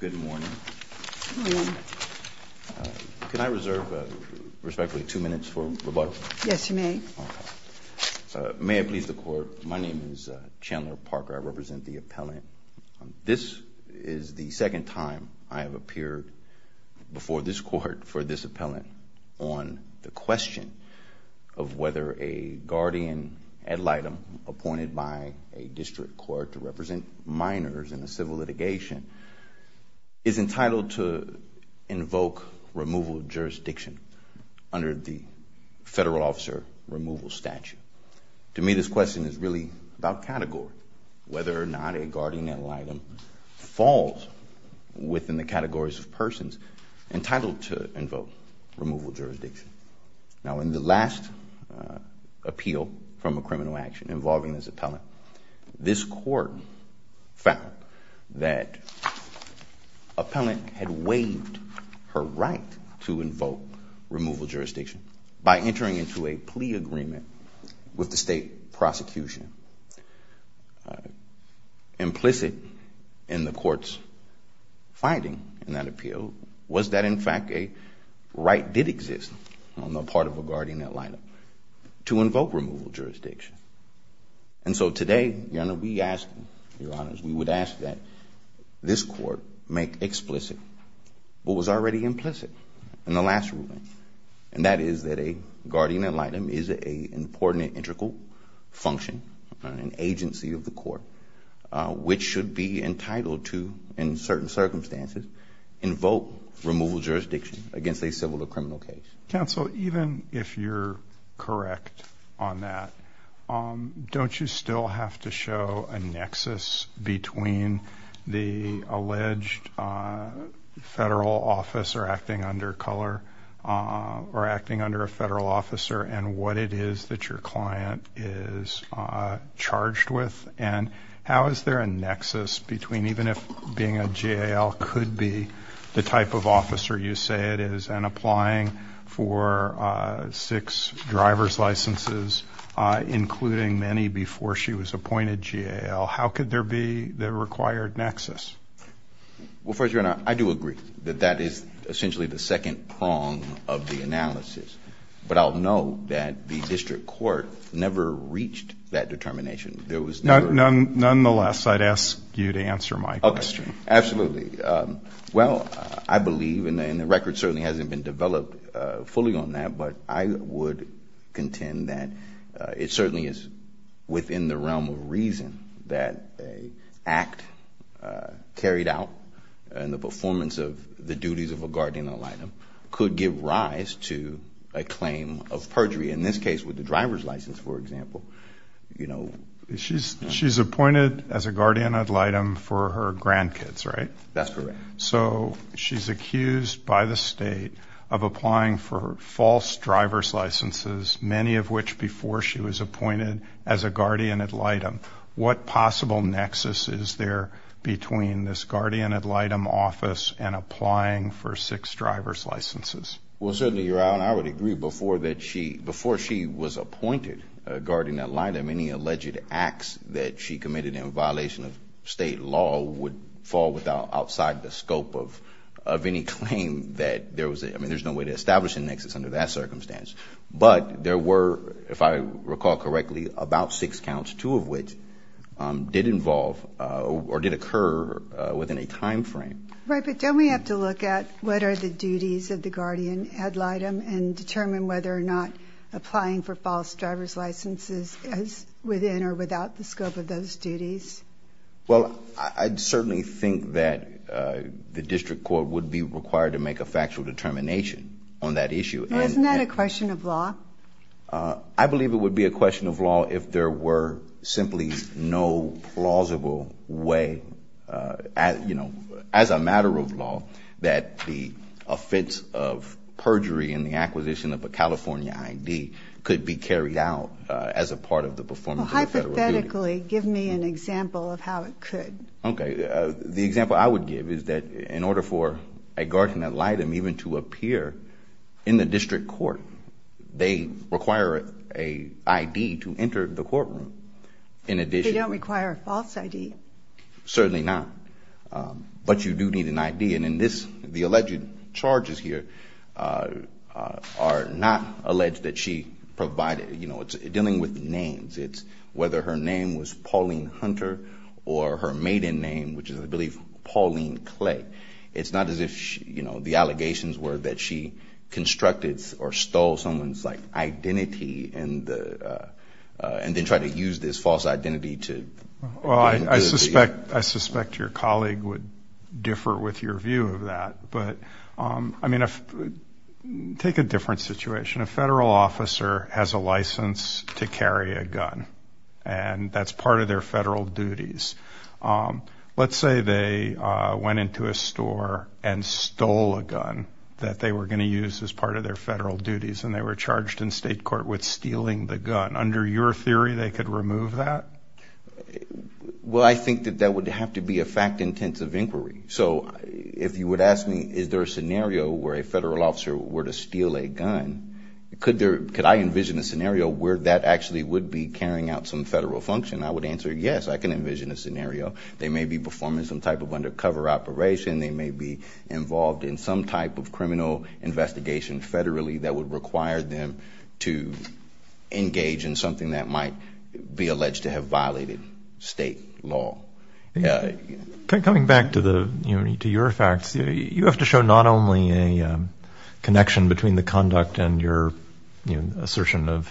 Good morning. Good morning. Can I reserve, respectfully, two minutes for rebuttal? Yes, you may. May I please the Court? My name is Chandler Parker. I represent the appellant. This is the second time I have appeared before this Court for this appellant on the question of whether a guardian ad litem appointed by a district court to represent minors in a civil litigation is entitled to invoke removal of jurisdiction under the federal officer removal statute. To me, this question is really about category, whether or not a guardian ad litem falls within the categories of persons entitled to invoke removal of jurisdiction. Now, in the last appeal from a criminal action involving this appellant, this Court found that appellant had waived her right to invoke removal of jurisdiction by entering into a plea agreement with the state prosecution. Implicit in the Court's finding in that appeal was that, in fact, a right did exist on the part of a guardian ad litem to invoke removal of jurisdiction. And so today, Your Honor, we ask, Your Honors, we would ask that this Court make explicit what was already implicit in the last And that is that a guardian ad litem is an important integral function, an agency of the Court, which should be entitled to, in certain circumstances, invoke removal of jurisdiction against a civil or criminal case. Counsel, even if you're correct on that, don't you still have to show a nexus between the alleged federal officer acting under a federal officer and what it is that your client is charged with? And how is there a nexus between even if being a JAL could be the type of officer you say it is and applying for six driver's licenses, including many before she was appointed JAL, how could there be the required nexus? Well, first, Your Honor, I do agree that that is essentially the second prong of the analysis. But I'll note that the district court never reached that determination. There was never one. Nonetheless, I'd ask you to answer my question. Absolutely. Well, I believe, and the record certainly hasn't been developed fully on that, but I would contend that it certainly is within the realm of reason that an act carried out in the performance of the duties of a guardian ad litem could give rise to a claim of perjury. In this case, with the driver's license, for example, you know. She's appointed as a guardian ad litem for her grandkids, right? That's correct. So she's accused by the state of applying for false driver's licenses, many of which before she was appointed as a guardian ad litem. What possible nexus is there between this guardian ad litem office and applying for six driver's licenses? Well, certainly, Your Honor, I would agree before she was appointed guardian ad litem, any alleged acts that she committed in violation of state law would fall outside the scope of any claim that there was. I mean, there's no way to establish a nexus under that circumstance. But there were, if I recall correctly, about six counts, two of which did involve or did occur within a time frame. Right, but don't we have to look at what are the duties of the guardian ad litem and determine whether or not applying for false driver's licenses is within or without the scope of those duties? Well, I certainly think that the district court would be required to make a factual determination on that issue. Isn't that a question of law? I believe it would be a question of law if there were simply no plausible way, you know, as a matter of law that the offense of perjury in the acquisition of a California I.D. could be carried out as a part of the performance of a federal duty. Well, hypothetically, give me an example of how it could. Okay. The example I would give is that in order for a guardian ad litem even to appear in the district court, they require an I.D. to enter the courtroom in addition. They don't require a false I.D.? Certainly not. But you do need an I.D. And in this, the alleged charges here are not alleged that she provided, you know, it's dealing with names. It's whether her name was Pauline Hunter or her maiden name, which is, I believe, Pauline Clay. It's not as if, you know, the allegations were that she constructed or stole someone's, like, identity and then tried to use this false identity to do this. Well, I suspect your colleague would differ with your view of that. But, I mean, take a different situation. A federal officer has a license to carry a gun, and that's part of their federal duties. Let's say they went into a store and stole a gun that they were going to use as part of their federal duties, and they were charged in state court with stealing the gun. Under your theory, they could remove that? Well, I think that that would have to be a fact-intensive inquiry. So if you would ask me, is there a scenario where a federal officer were to steal a gun, could I envision a scenario where that actually would be carrying out some federal function? I would answer, yes, I can envision a scenario. They may be performing some type of undercover operation. They may be involved in some type of criminal investigation federally that would require them to engage in something that might be alleged to have violated state law. Coming back to your facts, you have to show not only a connection between the conduct and your assertion of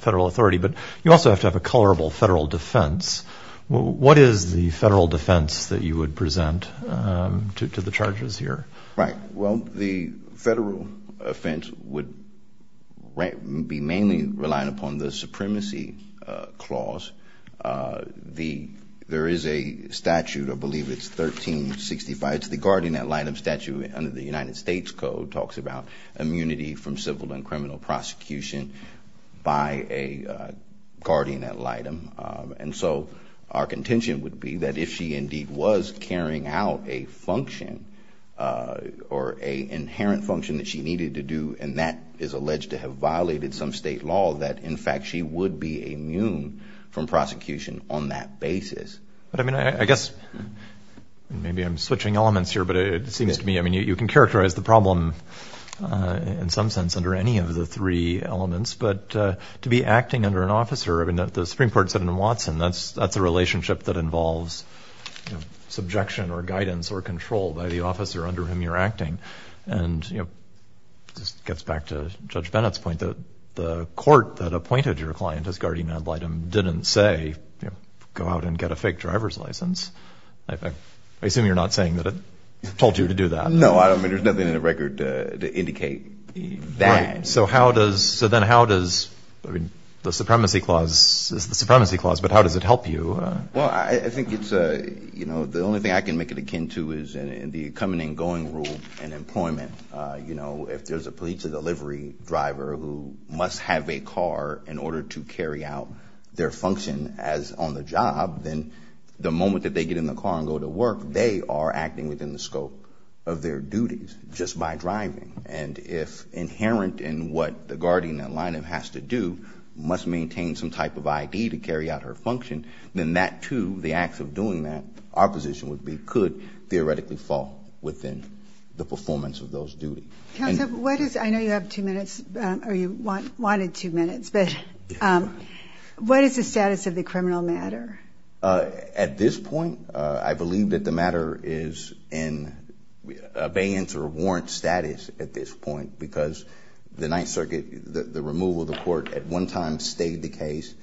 federal authority, but you also have to have a colorable federal defense. What is the federal defense that you would present to the charges here? Right. Well, the federal offense would be mainly relying upon the supremacy clause. There is a statute, I believe it's 1365, it's the guardian ad litem statute under the United States Code, talks about immunity from civil and criminal prosecution by a guardian ad litem. And so our contention would be that if she indeed was carrying out a function or an inherent function that she needed to do and that is alleged to have violated some state law, that, in fact, she would be immune from prosecution on that basis. But, I mean, I guess maybe I'm switching elements here, but it seems to me, I mean, you can characterize the problem in some sense under any of the three elements. But to be acting under an officer, I mean, the Supreme Court said in Watson, that's a relationship that involves subjection or guidance or control by the officer under whom you're acting. And, you know, this gets back to Judge Bennett's point, that the court that appointed your client as guardian ad litem didn't say, you know, go out and get a fake driver's license. I assume you're not saying that it told you to do that. No, I mean, there's nothing in the record to indicate that. Right. So how does, so then how does, I mean, the supremacy clause is the supremacy clause, but how does it help you? Well, I think it's, you know, the only thing I can make it akin to is the coming and going rule in employment. You know, if there's a police delivery driver who must have a car in order to carry out their function as on the job, then the moment that they get in the car and go to work, they are acting within the scope of their duties just by driving. And if inherent in what the guardian ad litem has to do, must maintain some type of ID to carry out her function, then that too, the acts of doing that, our position would be, could theoretically fall within the performance of those duties. Counsel, what is, I know you have two minutes, or you wanted two minutes, but what is the status of the criminal matter? At this point, I believe that the matter is in abeyance or warrant status at this point, because the Ninth Circuit, the removal of the court at one time stayed the case,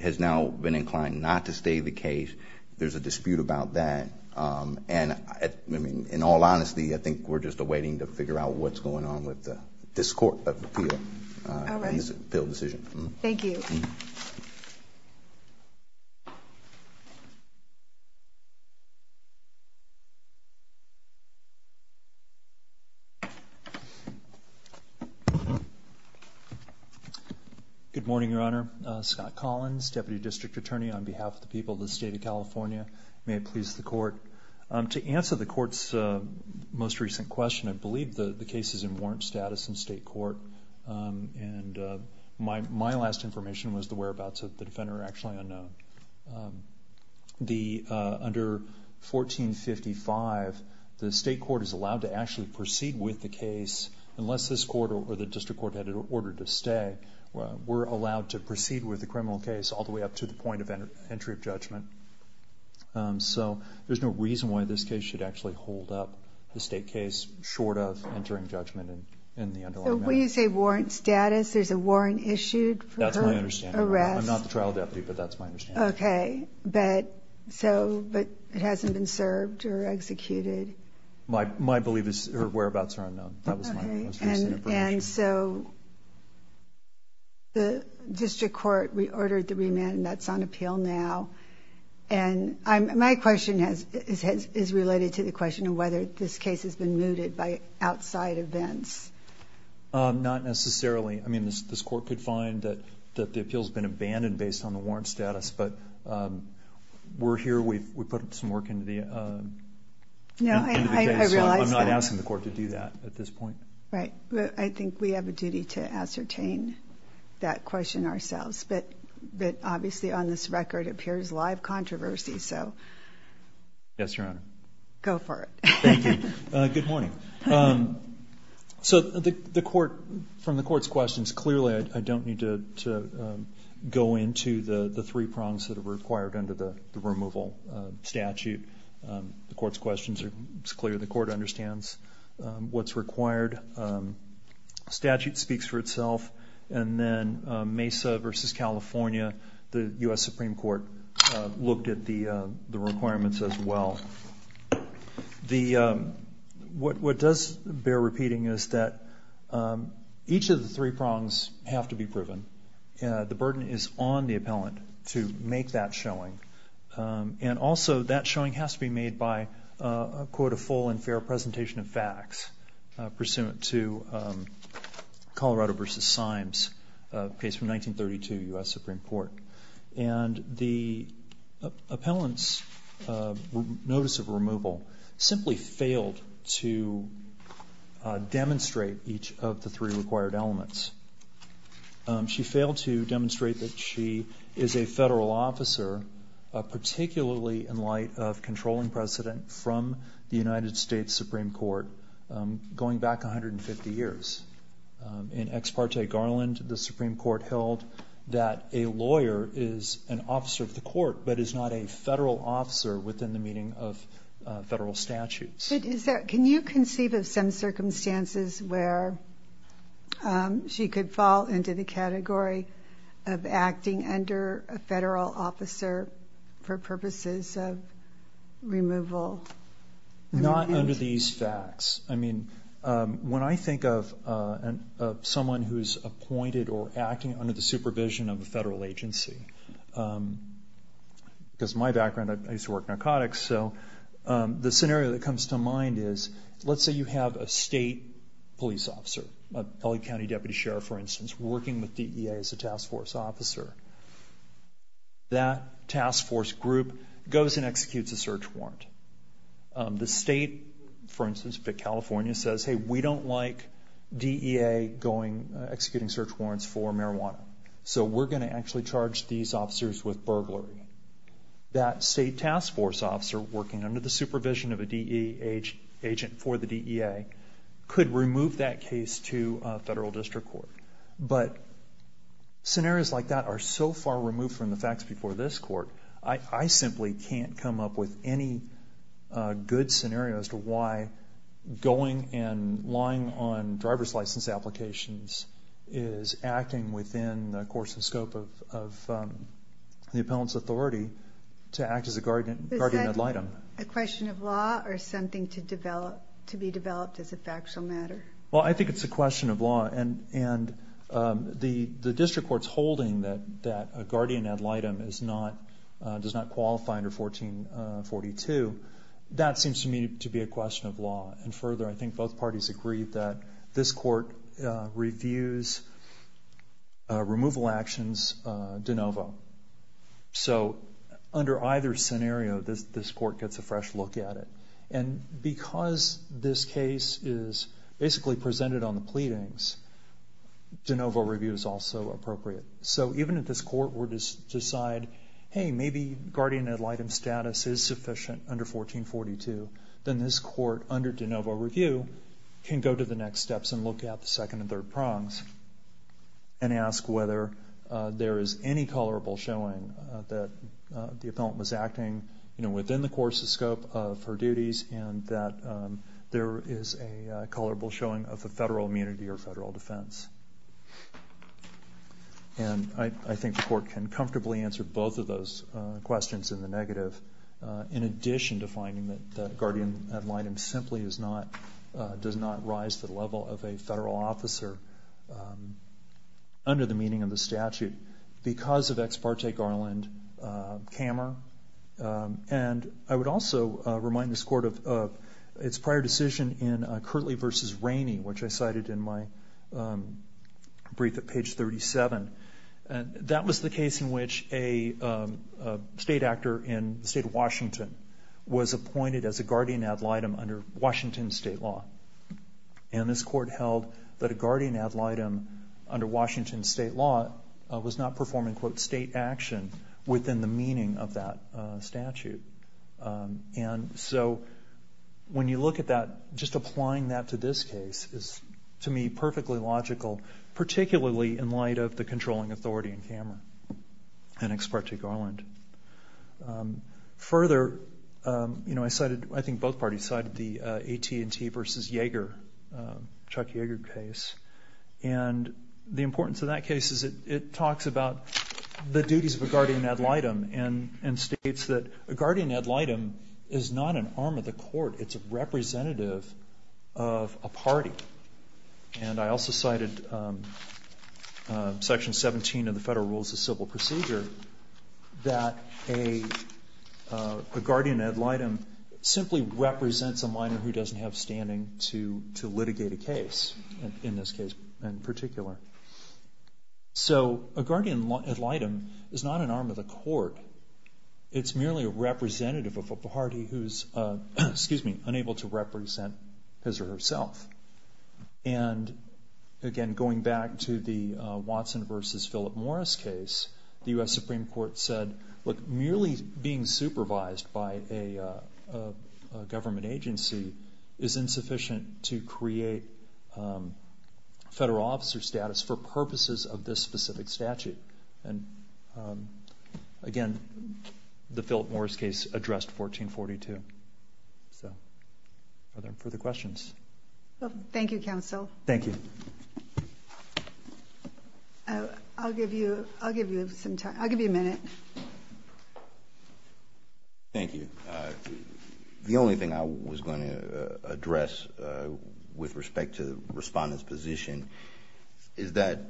has now been inclined not to stay the case. There's a dispute about that. And, I mean, in all honesty, I think we're just awaiting to figure out what's going on with this court of appeal and this appeal decision. Thank you. Good morning, Your Honor. Scott Collins, Deputy District Attorney on behalf of the people of the State of California. May it please the Court. To answer the Court's most recent question, I believe the case is in warrant status in state court, and my last information was the whereabouts of the defender are actually unknown. Under 1455, the state court is allowed to actually proceed with the case, unless this court or the district court had an order to stay. We're allowed to proceed with the criminal case all the way up to the point of entry of judgment. So there's no reason why this case should actually hold up the state case short of entering judgment in the underlying matter. So when you say warrant status, there's a warrant issued for her arrest? I'm not the trial deputy, but that's my understanding. Okay. But it hasn't been served or executed? My whereabouts are unknown. And so the district court reordered the remand, and that's on appeal now. And my question is related to the question of whether this case has been mooted by outside events. Not necessarily. I mean, this court could find that the appeal has been abandoned based on the warrant status, but we're here. We put some work into the case. I'm not asking the court to do that at this point. Right. I think we have a duty to ascertain that question ourselves. But obviously on this record it appears live controversy, so go for it. Thank you. Good morning. So from the court's questions, clearly I don't need to go into the three prongs that are required under the removal statute. The court's questions are clear. The court understands what's required. The statute speaks for itself. And then Mesa v. California, the U.S. Supreme Court, looked at the requirements as well. What does bear repeating is that each of the three prongs have to be proven. The burden is on the appellant to make that showing. And also that showing has to be made by, quote, a full and fair presentation of facts pursuant to Colorado v. Symes, a case from 1932, U.S. Supreme Court. And the appellant's notice of removal simply failed to demonstrate each of the three required elements. She failed to demonstrate that she is a federal officer, particularly in light of controlling precedent from the United States Supreme Court going back 150 years. In Ex Parte Garland, the Supreme Court held that a lawyer is an officer of the court but is not a federal officer within the meaning of federal statutes. Can you conceive of some circumstances where she could fall into the category of acting under a federal officer for purposes of removal? Not under these facts. I mean, when I think of someone who's appointed or acting under the supervision of a federal agency, because my background, I used to work narcotics, so the scenario that comes to mind is, let's say you have a state police officer, a L.A. County deputy sheriff, for instance, working with DEA as a task force officer. That task force group goes and executes a search warrant. The state, for instance, California, says, hey, we don't like DEA executing search warrants for marijuana, so we're going to actually charge these officers with burglary. That state task force officer working under the supervision of a DEA agent for the DEA could remove that case to federal district court. But scenarios like that are so far removed from the facts before this court, I simply can't come up with any good scenario as to why going and lying on driver's license applications is acting within the course and scope of the appellant's authority to act as a guardian ad litem. Is that a question of law or something to be developed as a factual matter? Well, I think it's a question of law. And the district court's holding that a guardian ad litem does not qualify under 1442, that seems to me to be a question of law. And further, I think both parties agree that this court reviews removal actions de novo. So under either scenario, this court gets a fresh look at it. And because this case is basically presented on the pleadings, de novo review is also appropriate. So even if this court were to decide, hey, maybe guardian ad litem status is sufficient under 1442, then this court under de novo review can go to the next steps and look at the second and third prongs and ask whether there is any colorable showing that the appellant was acting, you know, and that there is a colorable showing of the federal immunity or federal defense. And I think the court can comfortably answer both of those questions in the negative, in addition to finding that guardian ad litem simply does not rise to the level of a federal officer under the meaning of the statute because of ex parte garland camera. And I would also remind this court of its prior decision in Curtley v. Rainey, which I cited in my brief at page 37. That was the case in which a state actor in the state of Washington was appointed as a guardian ad litem under Washington state law. And this court held that a guardian ad litem under Washington state law was not performing, quote, state action within the meaning of that statute. And so when you look at that, just applying that to this case is, to me, perfectly logical, particularly in light of the controlling authority in camera and ex parte garland. Further, you know, I cited, I think both parties cited the AT&T v. Yeager, Chuck Yeager case. And the importance of that case is it talks about the duties of a guardian ad litem and states that a guardian ad litem is not an arm of the court. It's a representative of a party. And I also cited Section 17 of the Federal Rules of Civil Procedure that a guardian ad litem simply represents a minor who doesn't have standing to litigate a case in this case in particular. So a guardian ad litem is not an arm of the court. It's merely a representative of a party who's unable to represent his or herself. And again, going back to the Watson v. Philip Morris case, the U.S. Supreme Court said, look, merely being supervised by a government agency is insufficient to create federal officer status for purposes of this specific statute. And again, the Philip Morris case addressed 1442. So are there further questions? Thank you, counsel. Thank you. I'll give you some time. I'll give you a minute. Thank you. The only thing I was going to address with respect to the respondent's position is that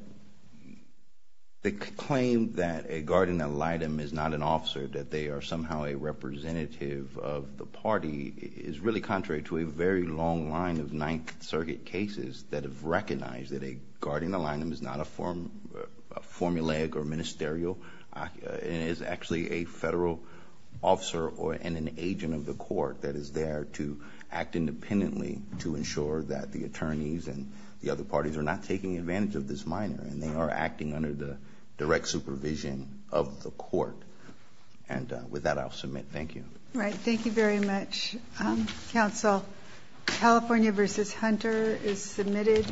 the claim that a guardian ad litem is not an officer, that they are somehow a representative of the party, is really contrary to a very long line of Ninth Circuit cases that have recognized that a guardian ad litem is not a formulaic or ministerial, and is actually a federal officer and an agent of the court that is there to act independently to ensure that the attorneys and the other parties are not taking advantage of this minor and they are acting under the direct supervision of the court. And with that, I'll submit. Thank you. All right. Thank you very much, counsel. California v. Hunter is submitted.